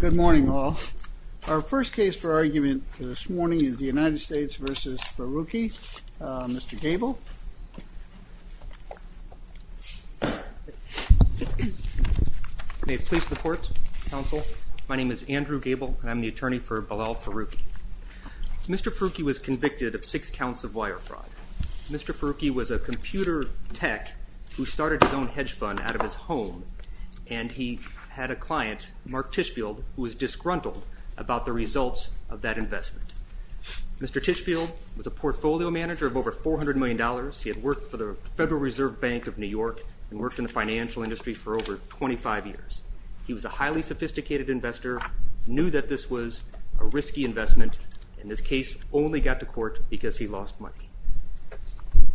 Good morning all. Our first case for argument this morning is the United States v. Faruki. Mr. Gable. May it please the court, counsel. My name is Andrew Gable and I'm the attorney for Belal Faruki. Mr. Faruki was convicted of six counts of wire fraud. Mr. Faruki was a computer tech who started his own hedge fund out of his home and he had a client, Mark Tishfield, who was disgruntled about the results of that investment. Mr. Tishfield was a portfolio manager of over 400 million dollars. He had worked for the Federal Reserve Bank of New York and worked in the financial industry for over 25 years. He was a highly sophisticated investor, knew that this was a risky investment, and this case only got to court because he lost money.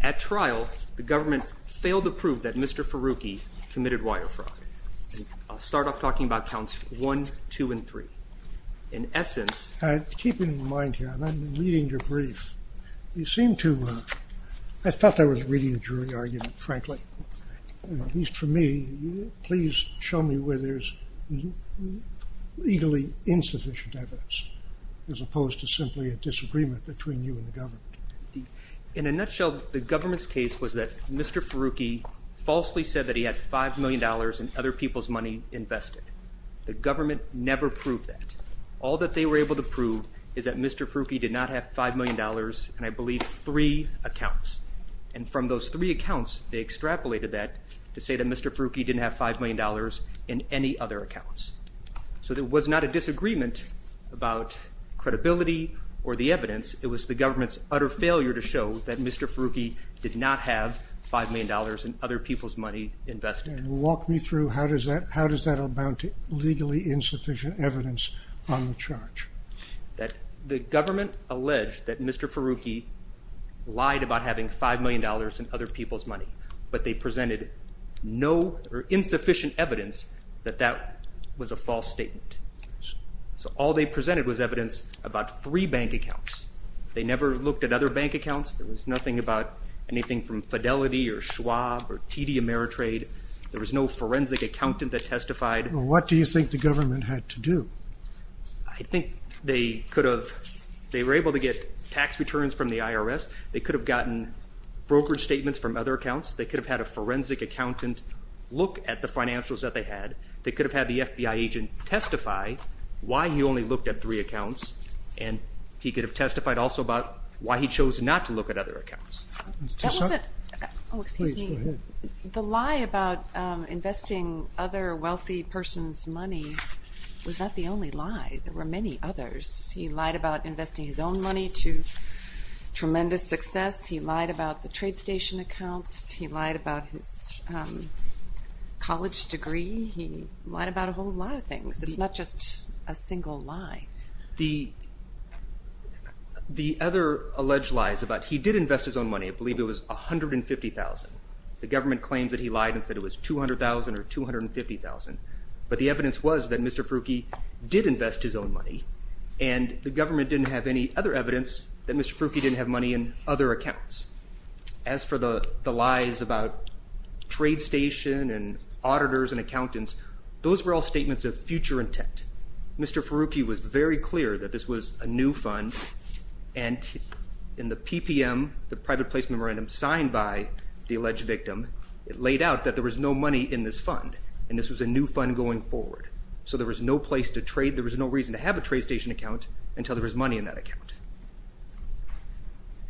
At trial, the government failed to prove that Mr. Faruki committed wire fraud. I'll start off talking about counts 1, 2, and 3. In essence, keep in mind here, I'm reading your brief, you seem to, I thought I was reading a jury argument, frankly. At least for me, please show me where there's legally insufficient evidence as opposed to simply a disagreement between you and the government. In a nutshell, the government's case was that Mr. Faruki falsely said that he had five million dollars in other people's money invested. The government never proved that. All that they were able to prove is that Mr. Faruki did not have five million dollars in, I believe, three accounts. And from those three accounts, they extrapolated that to say that Mr. Faruki didn't have five million dollars in any other accounts. So there was not a disagreement about credibility or the evidence. It was the government's utter failure to show that Mr. Faruki did not have five million dollars in other people's money invested. Walk me through how does that, how does that amount to legally insufficient evidence on the charge? That the government alleged that Mr. Faruki lied about having five million dollars in other people's money, but they So all they presented was evidence about three bank accounts. They never looked at other bank accounts. There was nothing about anything from Fidelity or Schwab or TD Ameritrade. There was no forensic accountant that testified. What do you think the government had to do? I think they could have, they were able to get tax returns from the IRS. They could have gotten brokerage statements from other accounts. They could have had a forensic accountant look at the financials that they had. They could have had the FBI agent testify why he only looked at three accounts, and he could have testified also about why he chose not to look at other accounts. The lie about investing other wealthy person's money was not the only lie. There were many others. He lied about investing his own money to tremendous success. He lied about the trade station accounts. He lied about his college degree. He lied about a whole lot of things. It's not just a single lie. The other alleged lies about, he did invest his own money, I believe it was a hundred and fifty thousand. The government claims that he lied and said it was two hundred thousand or two hundred and fifty thousand, but the evidence was that Mr. Faruki did invest his own money, and the government didn't have any other evidence that Mr. Faruki didn't have money in other accounts. As for the lies about trade station and auditors and accountants, those were all statements of future intent. Mr. Faruki was very clear that this was a new fund, and in the PPM, the private place memorandum signed by the alleged victim, it laid out that there was no money in this fund, and this was a new fund going forward. So there was no place to trade, there was no reason to have a trade station account until there was money in that account.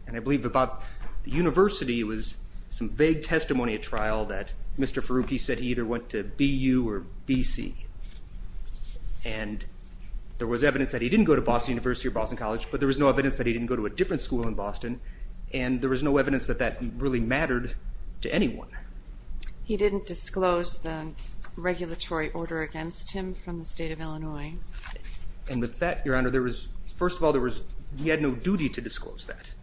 And I believe about the university, it was some vague testimony at trial that Mr. Faruki said he either went to BU or BC, and there was evidence that he didn't go to Boston University or Boston College, but there was no evidence that he didn't go to a different school in Boston, and there was no evidence that that really mattered to anyone. He didn't disclose the regulatory order against him from the state of Illinois. And with that, Your Honor, there was, first of all, there was, he had no duty to disclose that.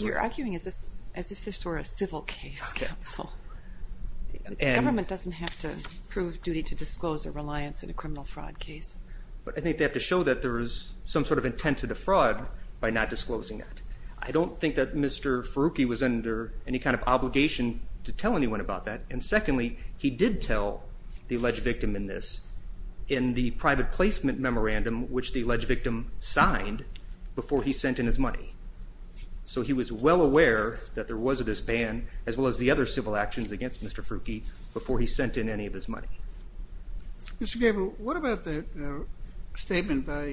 You're arguing as if this were a civil case, counsel. Government doesn't have to prove duty to disclose a reliance in a criminal fraud case. But I think they have to show that there is some sort of intent to defraud by not disclosing that. I don't think that Mr. Faruki was under any kind of obligation to tell anyone about that, and secondly, he did tell the alleged victim in this, in the private placement memorandum, which the alleged victim signed before he sent in his money. So he was well aware that there was this ban, as well as the other civil actions against Mr. Faruki, before he sent in any of his money. Mr. Gabel, what about the statement by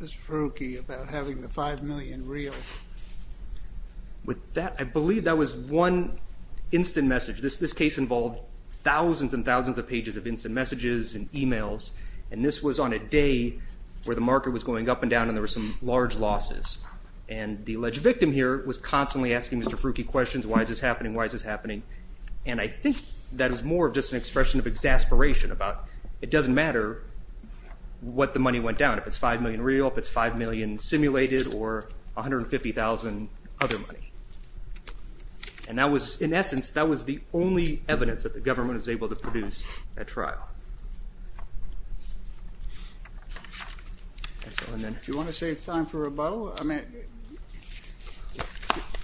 Mr. Faruki about having the five million real? With that, I believe that was one instant message. This case involved thousands and thousands of pages of instant messages and emails, and this was on a day where the market was going up and down and there were some large losses. And the alleged victim here was constantly asking Mr. Faruki questions. Why is this happening? Why is this happening? And I think that is more of just an expression of exasperation about it doesn't matter what the money went down. If it's five million real, if it's five million simulated, or 150,000 other money. And that was, in essence, that was the only evidence that the government was able to produce at trial. Do you want to save time for rebuttal? I mean,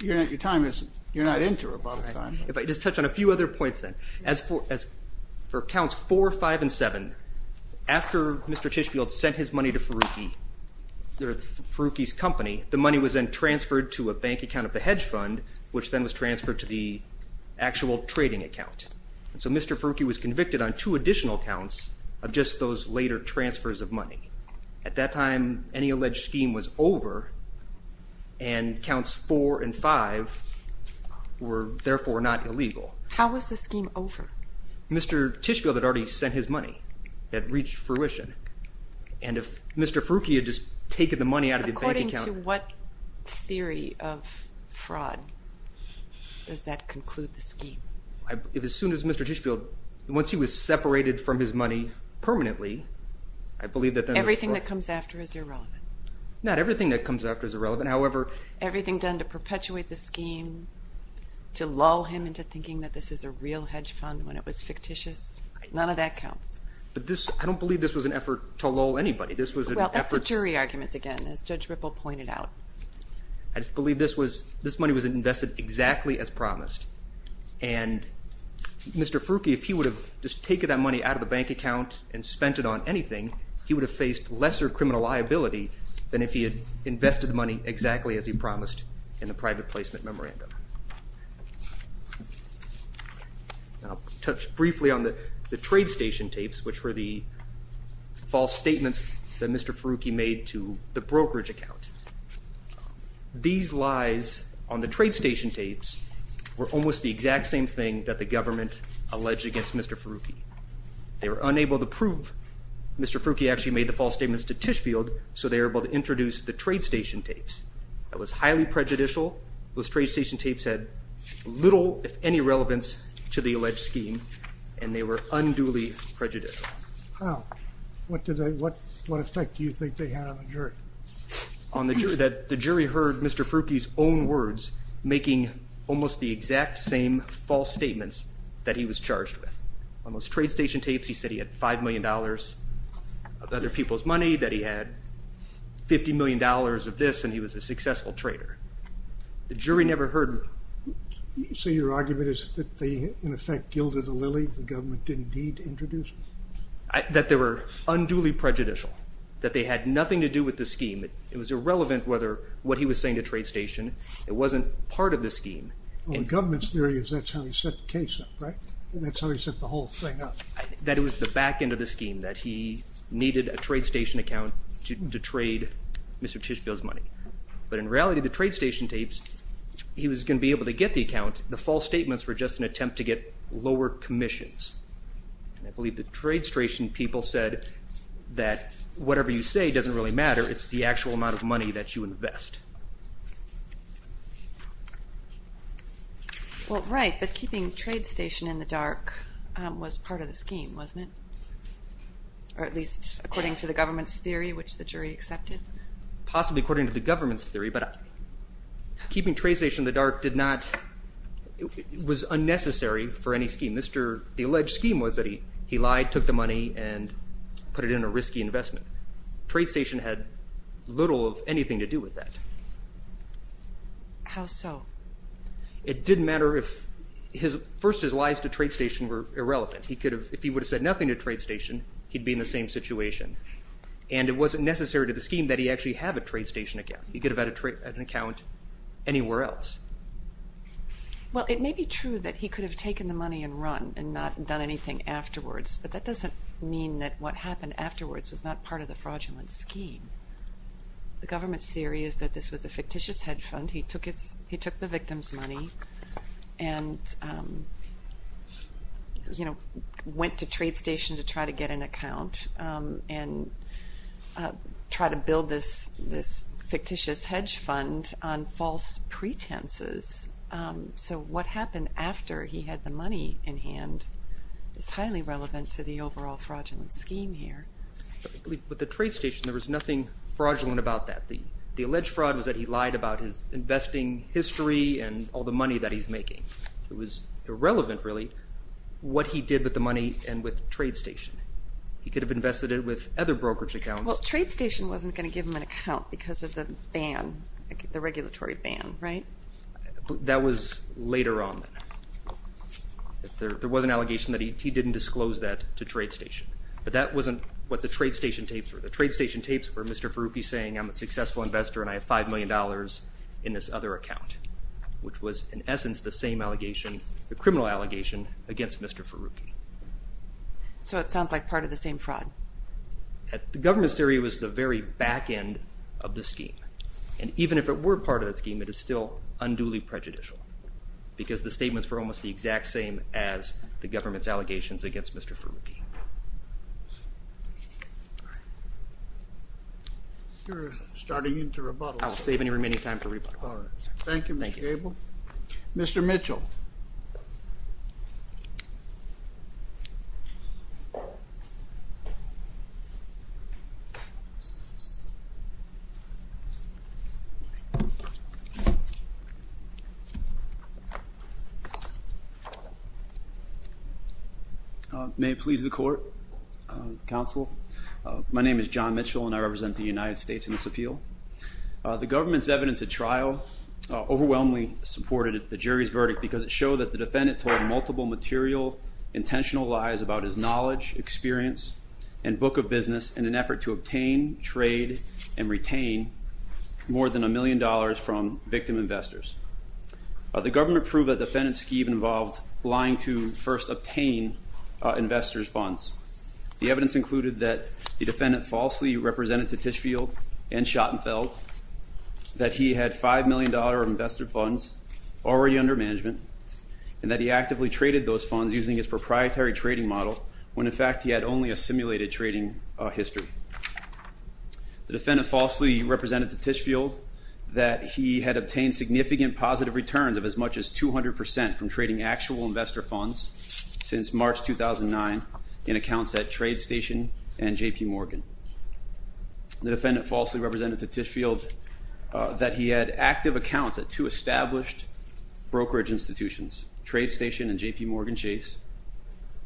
your time isn't, you're not into rebuttal time. If I just touch on a few other points then. As for counts four, five, and seven, after Mr. Tishfield sent his money to Faruki, Faruki's company, the money was then transferred to a bank account of the hedge fund, which then was transferred to the actual trading account. And so Mr. Faruki was convicted on two additional counts of just those later transfers of money. At that time, any alleged scheme was over, and counts four and five were therefore not illegal. How was the scheme over? Mr. Tishfield had already sent his money. It had reached fruition. And if Mr. Faruki had just taken the money out of the bank account. According to what theory of fraud does that conclude the scheme? As soon as Mr. Tishfield, once he was separated from his money permanently, I believe that then. Everything that comes after is irrelevant. Not everything that comes after is irrelevant, however. Everything done to perpetuate the scheme, to lull him into thinking that this is a real hedge fund when it was fictitious, none of that counts. But this, I don't believe this was an effort to lull anybody. This was an effort. Well that's the jury arguments again, as Judge Ripple pointed out. I just believe this was, this money was invested exactly as promised. And Mr. Faruki, if he would have just taken that money out of the bank account and spent it on anything, he would have faced lesser criminal liability than if he had invested the money exactly as he promised in the private placement memorandum. I'll touch briefly on the the trade station tapes, which were the false statements that Mr. Faruki made to the brokerage account. These lies on the trade station tapes were almost the exact same thing that the government alleged against Mr. Faruki. They were unable to prove Mr. Faruki actually made the false statements to Tishfield, so they were able to introduce the trade station tapes. That was highly prejudicial. Those trade station tapes had little, if any, relevance to the alleged scheme, and they were unduly prejudicial. What did they, what effect do you think they had on the jury? On the jury, that the jury heard Mr. Faruki's own words, making almost the exact same false statements that he was charged with. On those trade station tapes, he said he had five million dollars of other people's money, that he had fifty million dollars of this, and he was a successful trader. The jury never heard... So your argument is that they in effect gilded the lily, the government didn't need to introduce them? That they were unduly prejudicial, that they had nothing to do with the scheme. It was irrelevant whether what he was saying to trade station, it wasn't part of the scheme. The government's theory is that's how he set the case up, right? That's how he set the whole thing up. That it was the back end of the scheme, that he needed a trade station account to trade Mr. Tishfield's money. But in reality, the trade station tapes, he was going to be able to get the account, the false statements were just an attempt to get lower commissions. I believe the trade station people said that whatever you say doesn't really matter, it's the actual amount of money that you invest. Well right, but keeping trade station in the dark was part of the scheme, wasn't it? Or at least according to the government's theory, which the jury accepted? Possibly according to the government's theory, but keeping trade station in the dark did not, it was unnecessary for any scheme. The alleged scheme was that he lied, took the money, and put it in a risky investment. Trade station had little of anything to do with that. How so? It did matter if his, first his lies to trade station were irrelevant. He could have, if he would have said nothing to trade station, he'd be in the same situation. And it wasn't necessary to the scheme that he actually have a trade station account. He could have had an account anywhere else. Well it may be true that he could have taken the money and run and not done anything afterwards, but that doesn't mean that what happened afterwards was not part of the fraudulent scheme. The government's theory is that this was a fictitious hedge fund. He took the victim's money and, you know, went to trade station to try to get an account and try to build this fictitious hedge fund on false pretenses. So what happened after he had the money in hand is highly relevant to the overall fraudulent scheme here. With the trade station there was nothing fraudulent about that. The alleged fraud was that he lied about his investing history and all the money that he's making. It was irrelevant really what he did with the money and with trade station. He could have invested it with other brokerage accounts. Well trade station wasn't going to give him an account because of the ban, the regulatory ban, right? That was later on. There was an allegation that he didn't disclose that to trade station, but that wasn't what the trade station tapes were. The trade station tapes were Mr. Ferrucchi saying I'm a successful investor and I have five million dollars in this other account, which was in essence the same allegation, the criminal allegation, against Mr. Ferrucchi. So it sounds like part of the same fraud. The government's theory was the very back end of the scheme and even if it were part of that scheme, it is still unduly prejudicial because the statements were almost the exact same as the government's allegations against Mr. Ferrucchi. You're starting into rebuttal. I'll save any remaining time for rebuttal. Thank you. Mr. Abel. Mr. Mitchell. May it please the court, counsel. My name is John Mitchell and I represent the United States in this appeal. The government's evidence at trial overwhelmingly supported the jury's verdict because it showed that the defendant told multiple material intentional lies about his knowledge, experience, and book of business in an effort to obtain, trade, and retain more than a million dollars from victim investors. The government proved that defendant's scheme involved lying to first obtain investors funds. The evidence included that the defendant falsely represented to Tichfield and Schottenfeld, that he had five million dollar investor funds already under management, and that he actively traded those funds using his proprietary trading model when in fact he had only a simulated trading history. The defendant falsely represented to Tichfield that he had obtained significant positive returns of as much as 200 percent from trading actual investor funds since March 2009 in accounts at Trade Station and JP Morgan. The defendant falsely represented to Tichfield that he had active accounts at two established brokerage institutions, Trade Station and JP Morgan Chase,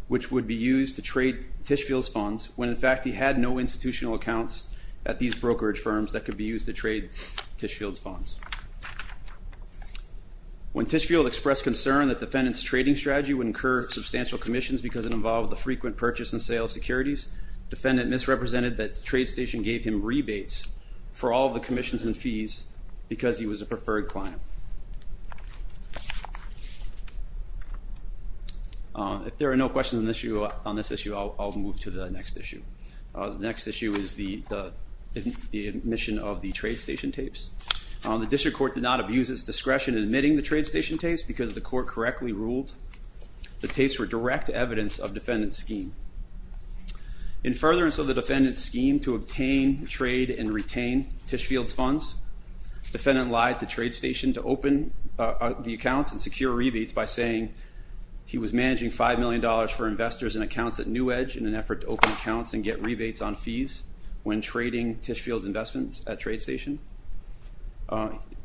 which would be used to trade Tichfield's funds when in fact he had no institutional accounts at these brokerage firms that could be used to trade Tichfield's funds. When Tichfield expressed concern that defendant's trading strategy would incur substantial commissions because it involved the frequent purchase and sale securities, defendant misrepresented that Trade Station gave him rebates for all the commissions and fees because he was a preferred client. If there are no questions on this issue, I'll move to the next issue. The next issue is the admission of the Trade Station tapes. The district court did not abuse its discretion in admitting the Trade Station tapes because the court correctly ruled the tapes were direct evidence of defendant's scheme. In furtherance of the defendant's scheme to obtain, trade, and retain Tichfield's funds, defendant lied to Trade Station to open the accounts and secure rebates by saying he was managing five million dollars for investors and accounts at when trading Tichfield's investments at Trade Station,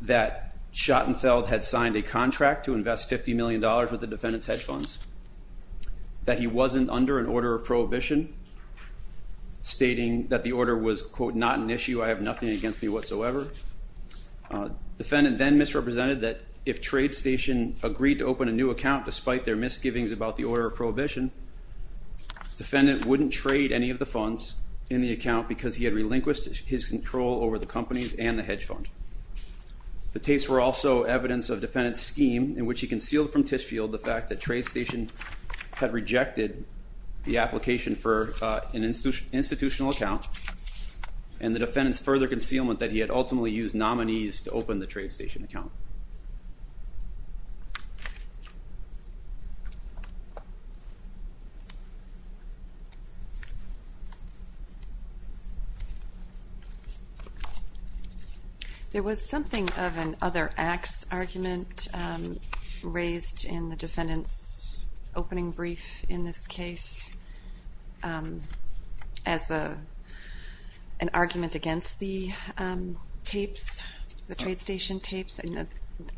that Schottenfeld had signed a contract to invest 50 million dollars with the defendant's hedge funds, that he wasn't under an order of prohibition, stating that the order was quote not an issue, I have nothing against me whatsoever. Defendant then misrepresented that if Trade Station agreed to open a new account despite their misgivings about the order of prohibition, defendant wouldn't trade any of the funds in the account because he had relinquished his control over the companies and the hedge fund. The tapes were also evidence of defendant's scheme in which he concealed from Tichfield the fact that Trade Station had rejected the application for an institutional account and the defendant's further concealment that he had ultimately used nominees to open the Trade Station account. There was something of an other acts argument raised in the defendant's opening brief in this case as a an argument against the tapes, the Trade Station tapes, and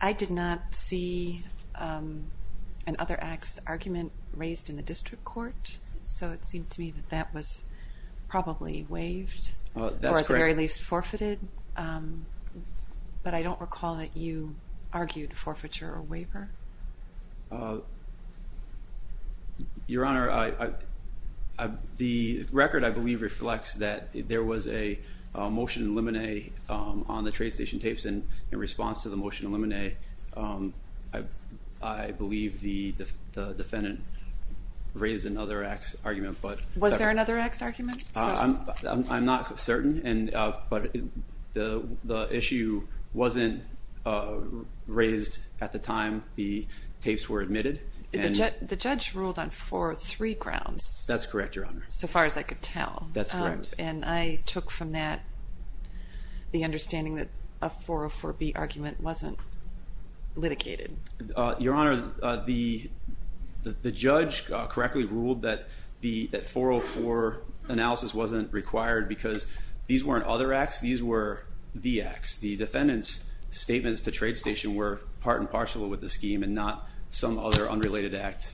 I did not see an other acts argument raised in the brief. It seems to me that that was probably waived or at the very least forfeited, but I don't recall that you argued forfeiture or waiver. Your Honor, the record I believe reflects that there was a motion in limine on the Trade Station tapes and in response to the motion in limine, I believe the defendant raised another acts argument Was there another acts argument? I'm not certain and but the issue wasn't raised at the time the tapes were admitted. The judge ruled on four or three grounds. That's correct, Your Honor. So far as I could tell. That's correct. And I took from that the understanding that a 404B argument wasn't litigated. Your Honor, the judge correctly ruled that the 404 analysis wasn't required because these weren't other acts, these were the acts. The defendant's statements to Trade Station were part and parcel with the scheme and not some other unrelated act,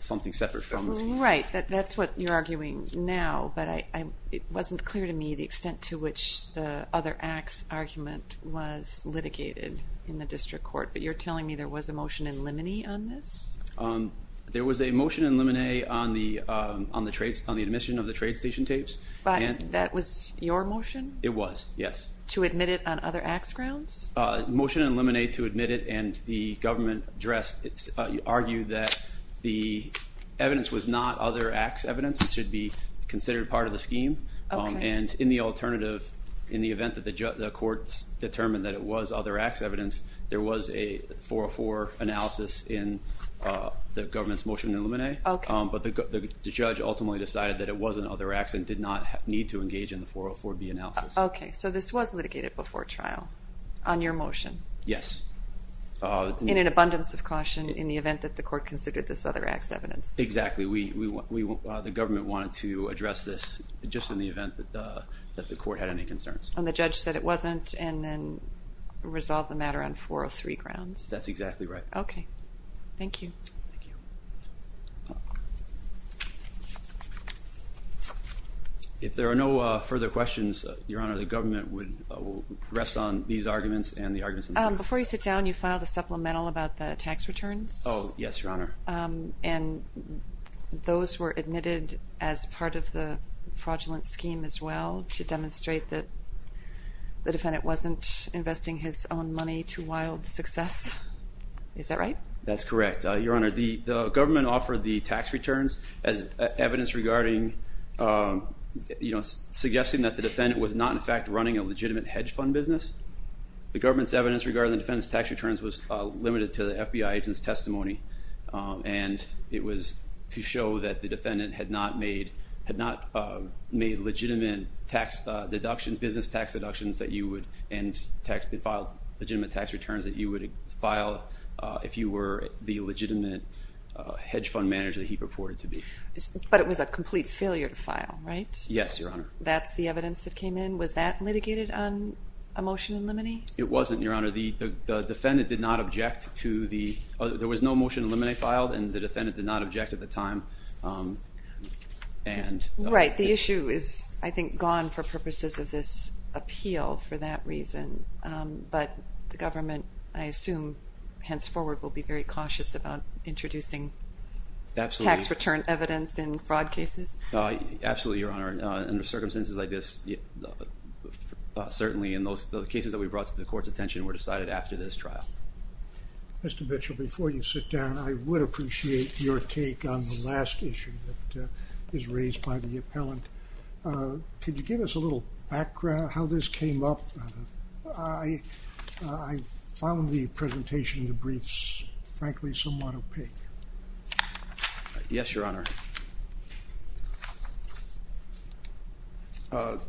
something separate from the scheme. Right, that's what you're arguing now, but it wasn't clear to me the extent to which the other acts argument was litigated in the district court, but you're telling me there was a motion in limine on this? There was a motion in limine on the on the trades, on the admission of the Trade Station tapes. But that was your motion? It was, yes. To admit it on other acts grounds? Motion in limine to admit it and the government addressed, argued that the evidence was not other acts evidence. It should be considered part of the scheme and in the alternative, in the event that the court's determined that it was other acts evidence, there was a 404 analysis in the government's motion in limine, but the judge ultimately decided that it was an other acts and did not need to engage in the 404B analysis. Okay, so this was litigated before trial on your motion? Yes. In an abundance of caution in the event that the court considered this other acts evidence? Exactly, the government wanted to address this just in the event that the court had any concerns. And the judge said it wasn't and then resolved the matter on 403 grounds. That's exactly right. Okay, thank you. If there are no further questions, Your Honor, the government would rest on these arguments and the arguments in the background. Before you sit down, you filed a supplemental about the tax returns? Oh yes, Your Honor. And those were admitted as part of the fraudulent scheme as well to demonstrate that the defendant wasn't investing his own money to wild success, is that right? That's correct, Your Honor. The government offered the tax returns as evidence regarding, you know, suggesting that the defendant was not in fact running a legitimate hedge fund business. The government's evidence regarding the defendant's tax returns was limited to the FBI agent's testimony and it was to show that the defendant had not made, had not made legitimate tax deductions, business tax deductions that you would, and filed legitimate tax returns that you would file if you were the legitimate hedge fund manager that he purported to be. But it was a complete failure to file, right? Yes, Your Honor. That's the evidence that came in? Was that litigated on a motion in limine? It wasn't, Your Honor. The defendant did not object to the, there was no motion in limine filed and the defendant did not object at the time. Right, the issue is, I think, gone for purposes of this appeal for that reason, but the government, I assume, henceforward will be very cautious about introducing tax return evidence in fraud cases? Absolutely, Your Honor. Under circumstances like this, certainly in those cases that we brought to the court's attention were decided after this trial. Mr. Mitchell, before you sit down, I would appreciate your take on the last issue that is raised by the appellant. Could you give us a little background on how this came up? I found the presentation in the briefs, frankly, somewhat opaque. Yes, Your Honor. The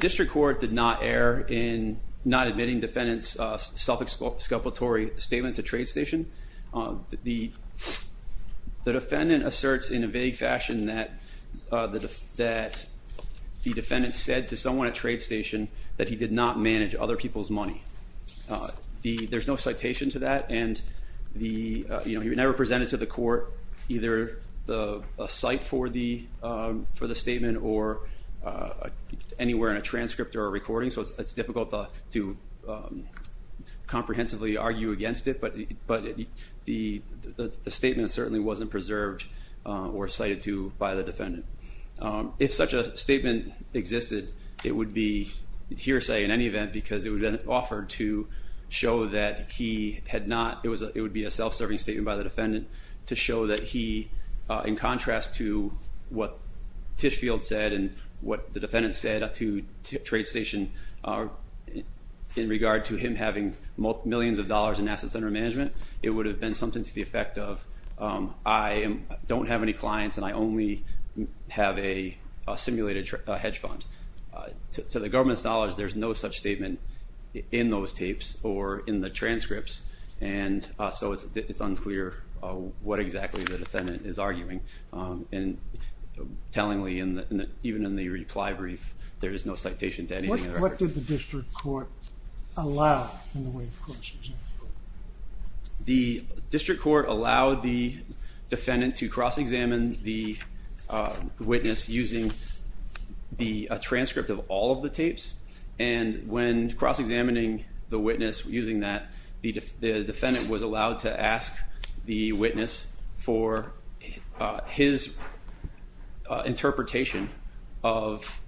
district court did not err in not admitting defendants self-exculpatory statement to Trade Station. The defendant asserts in a vague fashion that the defendant said to someone at Trade Station that he did not manage other people's money. There's no citation to that and the, you know, he never presented to the court either a cite for the for the statement or anywhere in a transcript or a recording, so it's difficult to comprehensively argue against it, but the statement certainly wasn't preserved or cited to by the defendant. If such a statement existed, it would be hearsay in any event because it would have been offered to show that he had not, it would be a self-serving statement by the defendant to show that he, in contrast to what Tishfield said and what the defendant said to Trade Station in regard to him having millions of dollars in asset center management, it would have been something to the effect of I don't have any clients and I only have a simulated hedge fund. To the government's knowledge, there's no such statement in those tapes or in the transcripts and so it's unclear what exactly the defendant is arguing and tellingly, even in the reply brief, there is no citation to anything. What did the district court allow in the Wave District Court allowed the defendant to cross-examine the witness using the transcript of all of the tapes and when cross-examining the witness using that the defendant was allowed to ask the witness for his interpretation of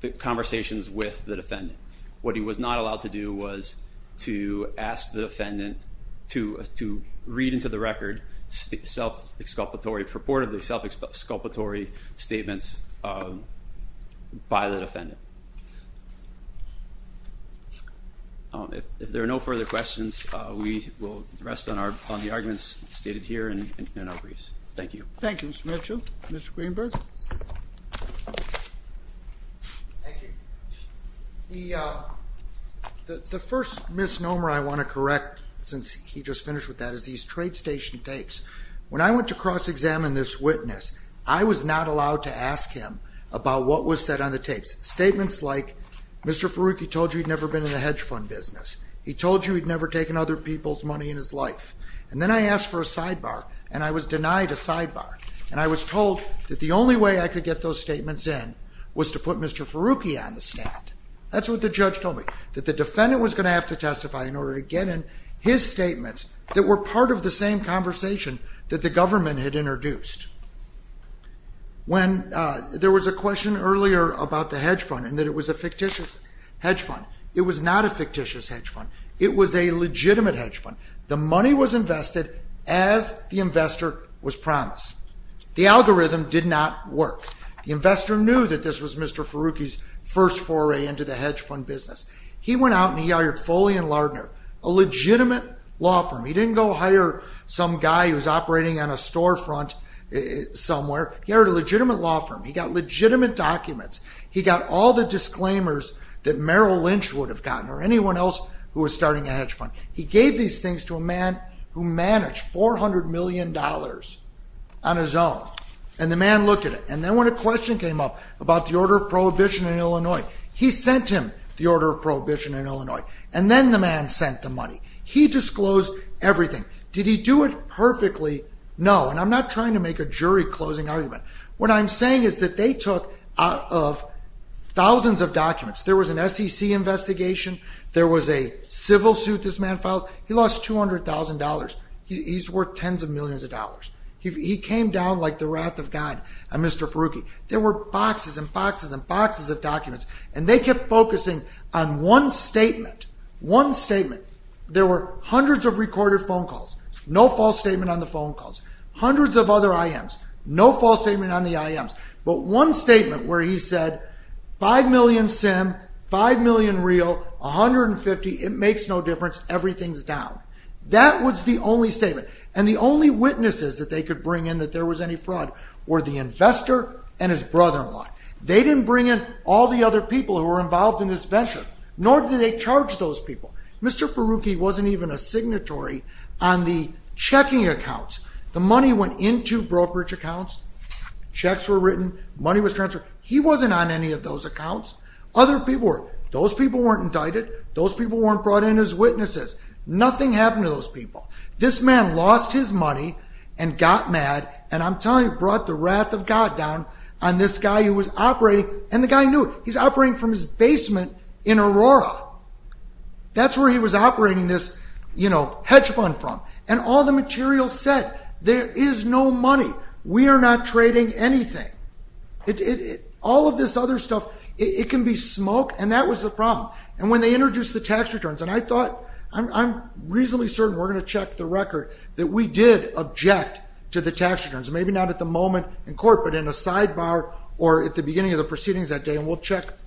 the conversations with the defendant. What he was not allowed to do was to ask the witness to read into the record self-exculpatory, purportedly self-exculpatory statements by the defendant. If there are no further questions, we will rest on the arguments stated here and in our briefs. Thank you. Thank you, Mr. Mitchell. Mr. Greenberg. The first misnomer I want to correct since he just finished with that is these trade station tapes. When I went to cross-examine this witness, I was not allowed to ask him about what was said on the tapes. Statements like, Mr. Farooqui told you he'd never been in the hedge fund business. He told you he'd never taken other people's money in his life. And then I asked for a sidebar and I was denied a sidebar and I was told that the only way I could get those statements in was to put Mr. Farooqui on the stand. That's what the judge told me, that the defendant was going to have to testify in order to get in his statements that were part of the same conversation that the government had introduced. When there was a question earlier about the hedge fund and that it was a fictitious hedge fund, it was not a fictitious hedge fund. It was a legitimate hedge fund. The money was invested as the investor was promised. The algorithm did not work. The investor knew that this was Mr. Farooqui's first foray into the hedge fund business. He went out and he hired Foley and Lardner, a legitimate law firm. He didn't go hire some guy who was operating on a storefront somewhere. He hired a legitimate law firm. He got legitimate documents. He got all the disclaimers that Merrill Lynch would have gotten or anyone else who was starting a hedge fund. He gave these things to a man who managed four hundred million dollars on his own and the man looked at it and then when a question came up about the order of prohibition in Illinois, he sent him the order of everything. Did he do it perfectly? No. And I'm not trying to make a jury closing argument. What I'm saying is that they took out of thousands of documents. There was an SEC investigation. There was a civil suit this man filed. He lost two hundred thousand dollars. He's worth tens of millions of dollars. He came down like the wrath of God, Mr. Farooqui. There were boxes and boxes and boxes of documents and they kept focusing on one statement. One statement. There were hundreds of recorded phone calls. No false statement on the phone calls. Hundreds of other IMs. No false statement on the IMs. But one statement where he said five million SIM, five million real, a hundred and fifty, it makes no difference, everything's down. That was the only statement and the only witnesses that they could bring in that there was any fraud were the investor and his brother-in-law. They didn't bring in all the other people who were involved in this venture, nor did they signatory on the checking accounts. The money went into brokerage accounts. Checks were written. Money was transferred. He wasn't on any of those accounts. Other people were. Those people weren't indicted. Those people weren't brought in as witnesses. Nothing happened to those people. This man lost his money and got mad and I'm telling you brought the wrath of God down on this guy who was operating. And the guy knew it. He's operating from his basement in Aurora. That's where he was operating this, you know, hedge fund from. And all the material said there is no money. We are not trading anything. All of this other stuff, it can be smoke and that was the problem. And when they introduced the tax returns and I thought I'm reasonably certain we're gonna check the record that we did object to the tax returns. Maybe not at the moment in court but in a sidebar or at the beginning of the proceedings that day and we'll check the tax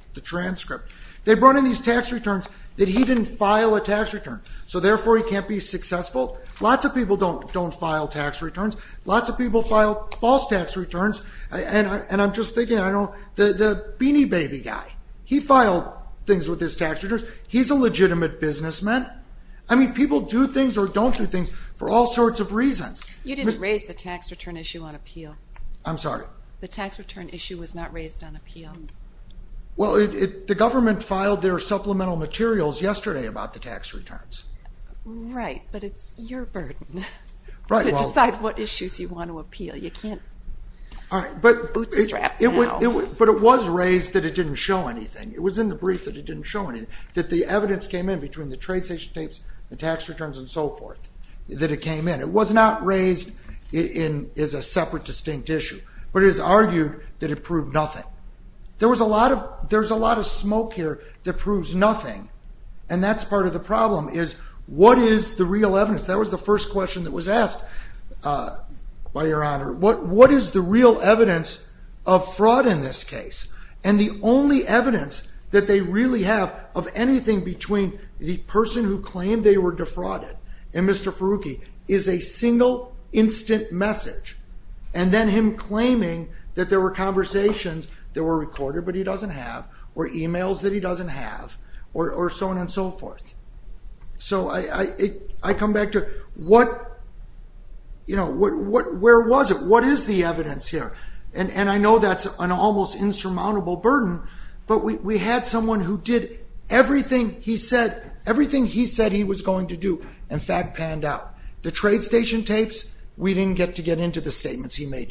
returns that he didn't file a tax return. So therefore he can't be successful. Lots of people don't don't file tax returns. Lots of people file false tax returns. And I'm just thinking, I don't, the Beanie Baby guy, he filed things with his tax returns. He's a legitimate businessman. I mean people do things or don't do things for all sorts of reasons. You didn't raise the tax return issue on appeal. I'm sorry. The tax return issue was not raised on appeal. Well, the government filed their supplemental materials yesterday about the tax returns. Right, but it's your burden to decide what issues you want to appeal. You can't bootstrap now. But it was raised that it didn't show anything. It was in the brief that it didn't show anything. That the evidence came in between the trade station tapes, the tax returns, and so forth. That it came in. It was not raised as a separate distinct issue. But it is argued that it proved nothing. There was a lot of, there's a lot of smoke here that proves nothing. And that's part of the problem is, what is the real evidence? That was the first question that was asked by Your Honor. What what is the real evidence of fraud in this case? And the only evidence that they really have of anything between the person who claimed they were defrauded and Mr. Farooqui is a conversations that were recorded but he doesn't have, or emails that he doesn't have, or so on and so forth. So I come back to what, you know, where was it? What is the evidence here? And I know that's an almost insurmountable burden, but we had someone who did everything he said, everything he said he was going to do, in fact panned out. The trade station tapes, we didn't get to get into the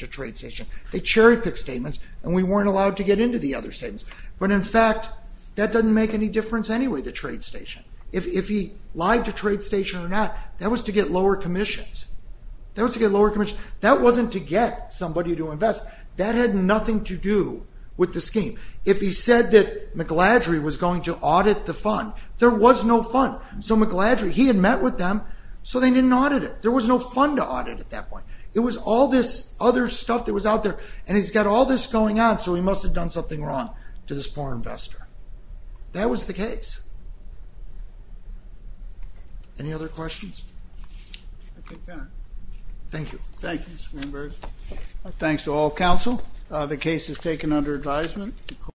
trade station. They cherry-picked statements and we weren't allowed to get into the other statements. But in fact, that doesn't make any difference anyway, the trade station. If he lied to trade station or not, that was to get lower commissions. That was to get lower commission. That wasn't to get somebody to invest. That had nothing to do with the scheme. If he said that McLeodry was going to audit the fund, there was no fund. So McLeodry, he had met with them so they didn't audit it. There was no fund to audit at that point. It was all this other stuff that was out there, and he's got all this going on, so he must have done something wrong to this poor investor. That was the case. Any other questions? Thank you. Thank you, Mr. Greenberg. Thanks to all counsel. The case is taken under advisement.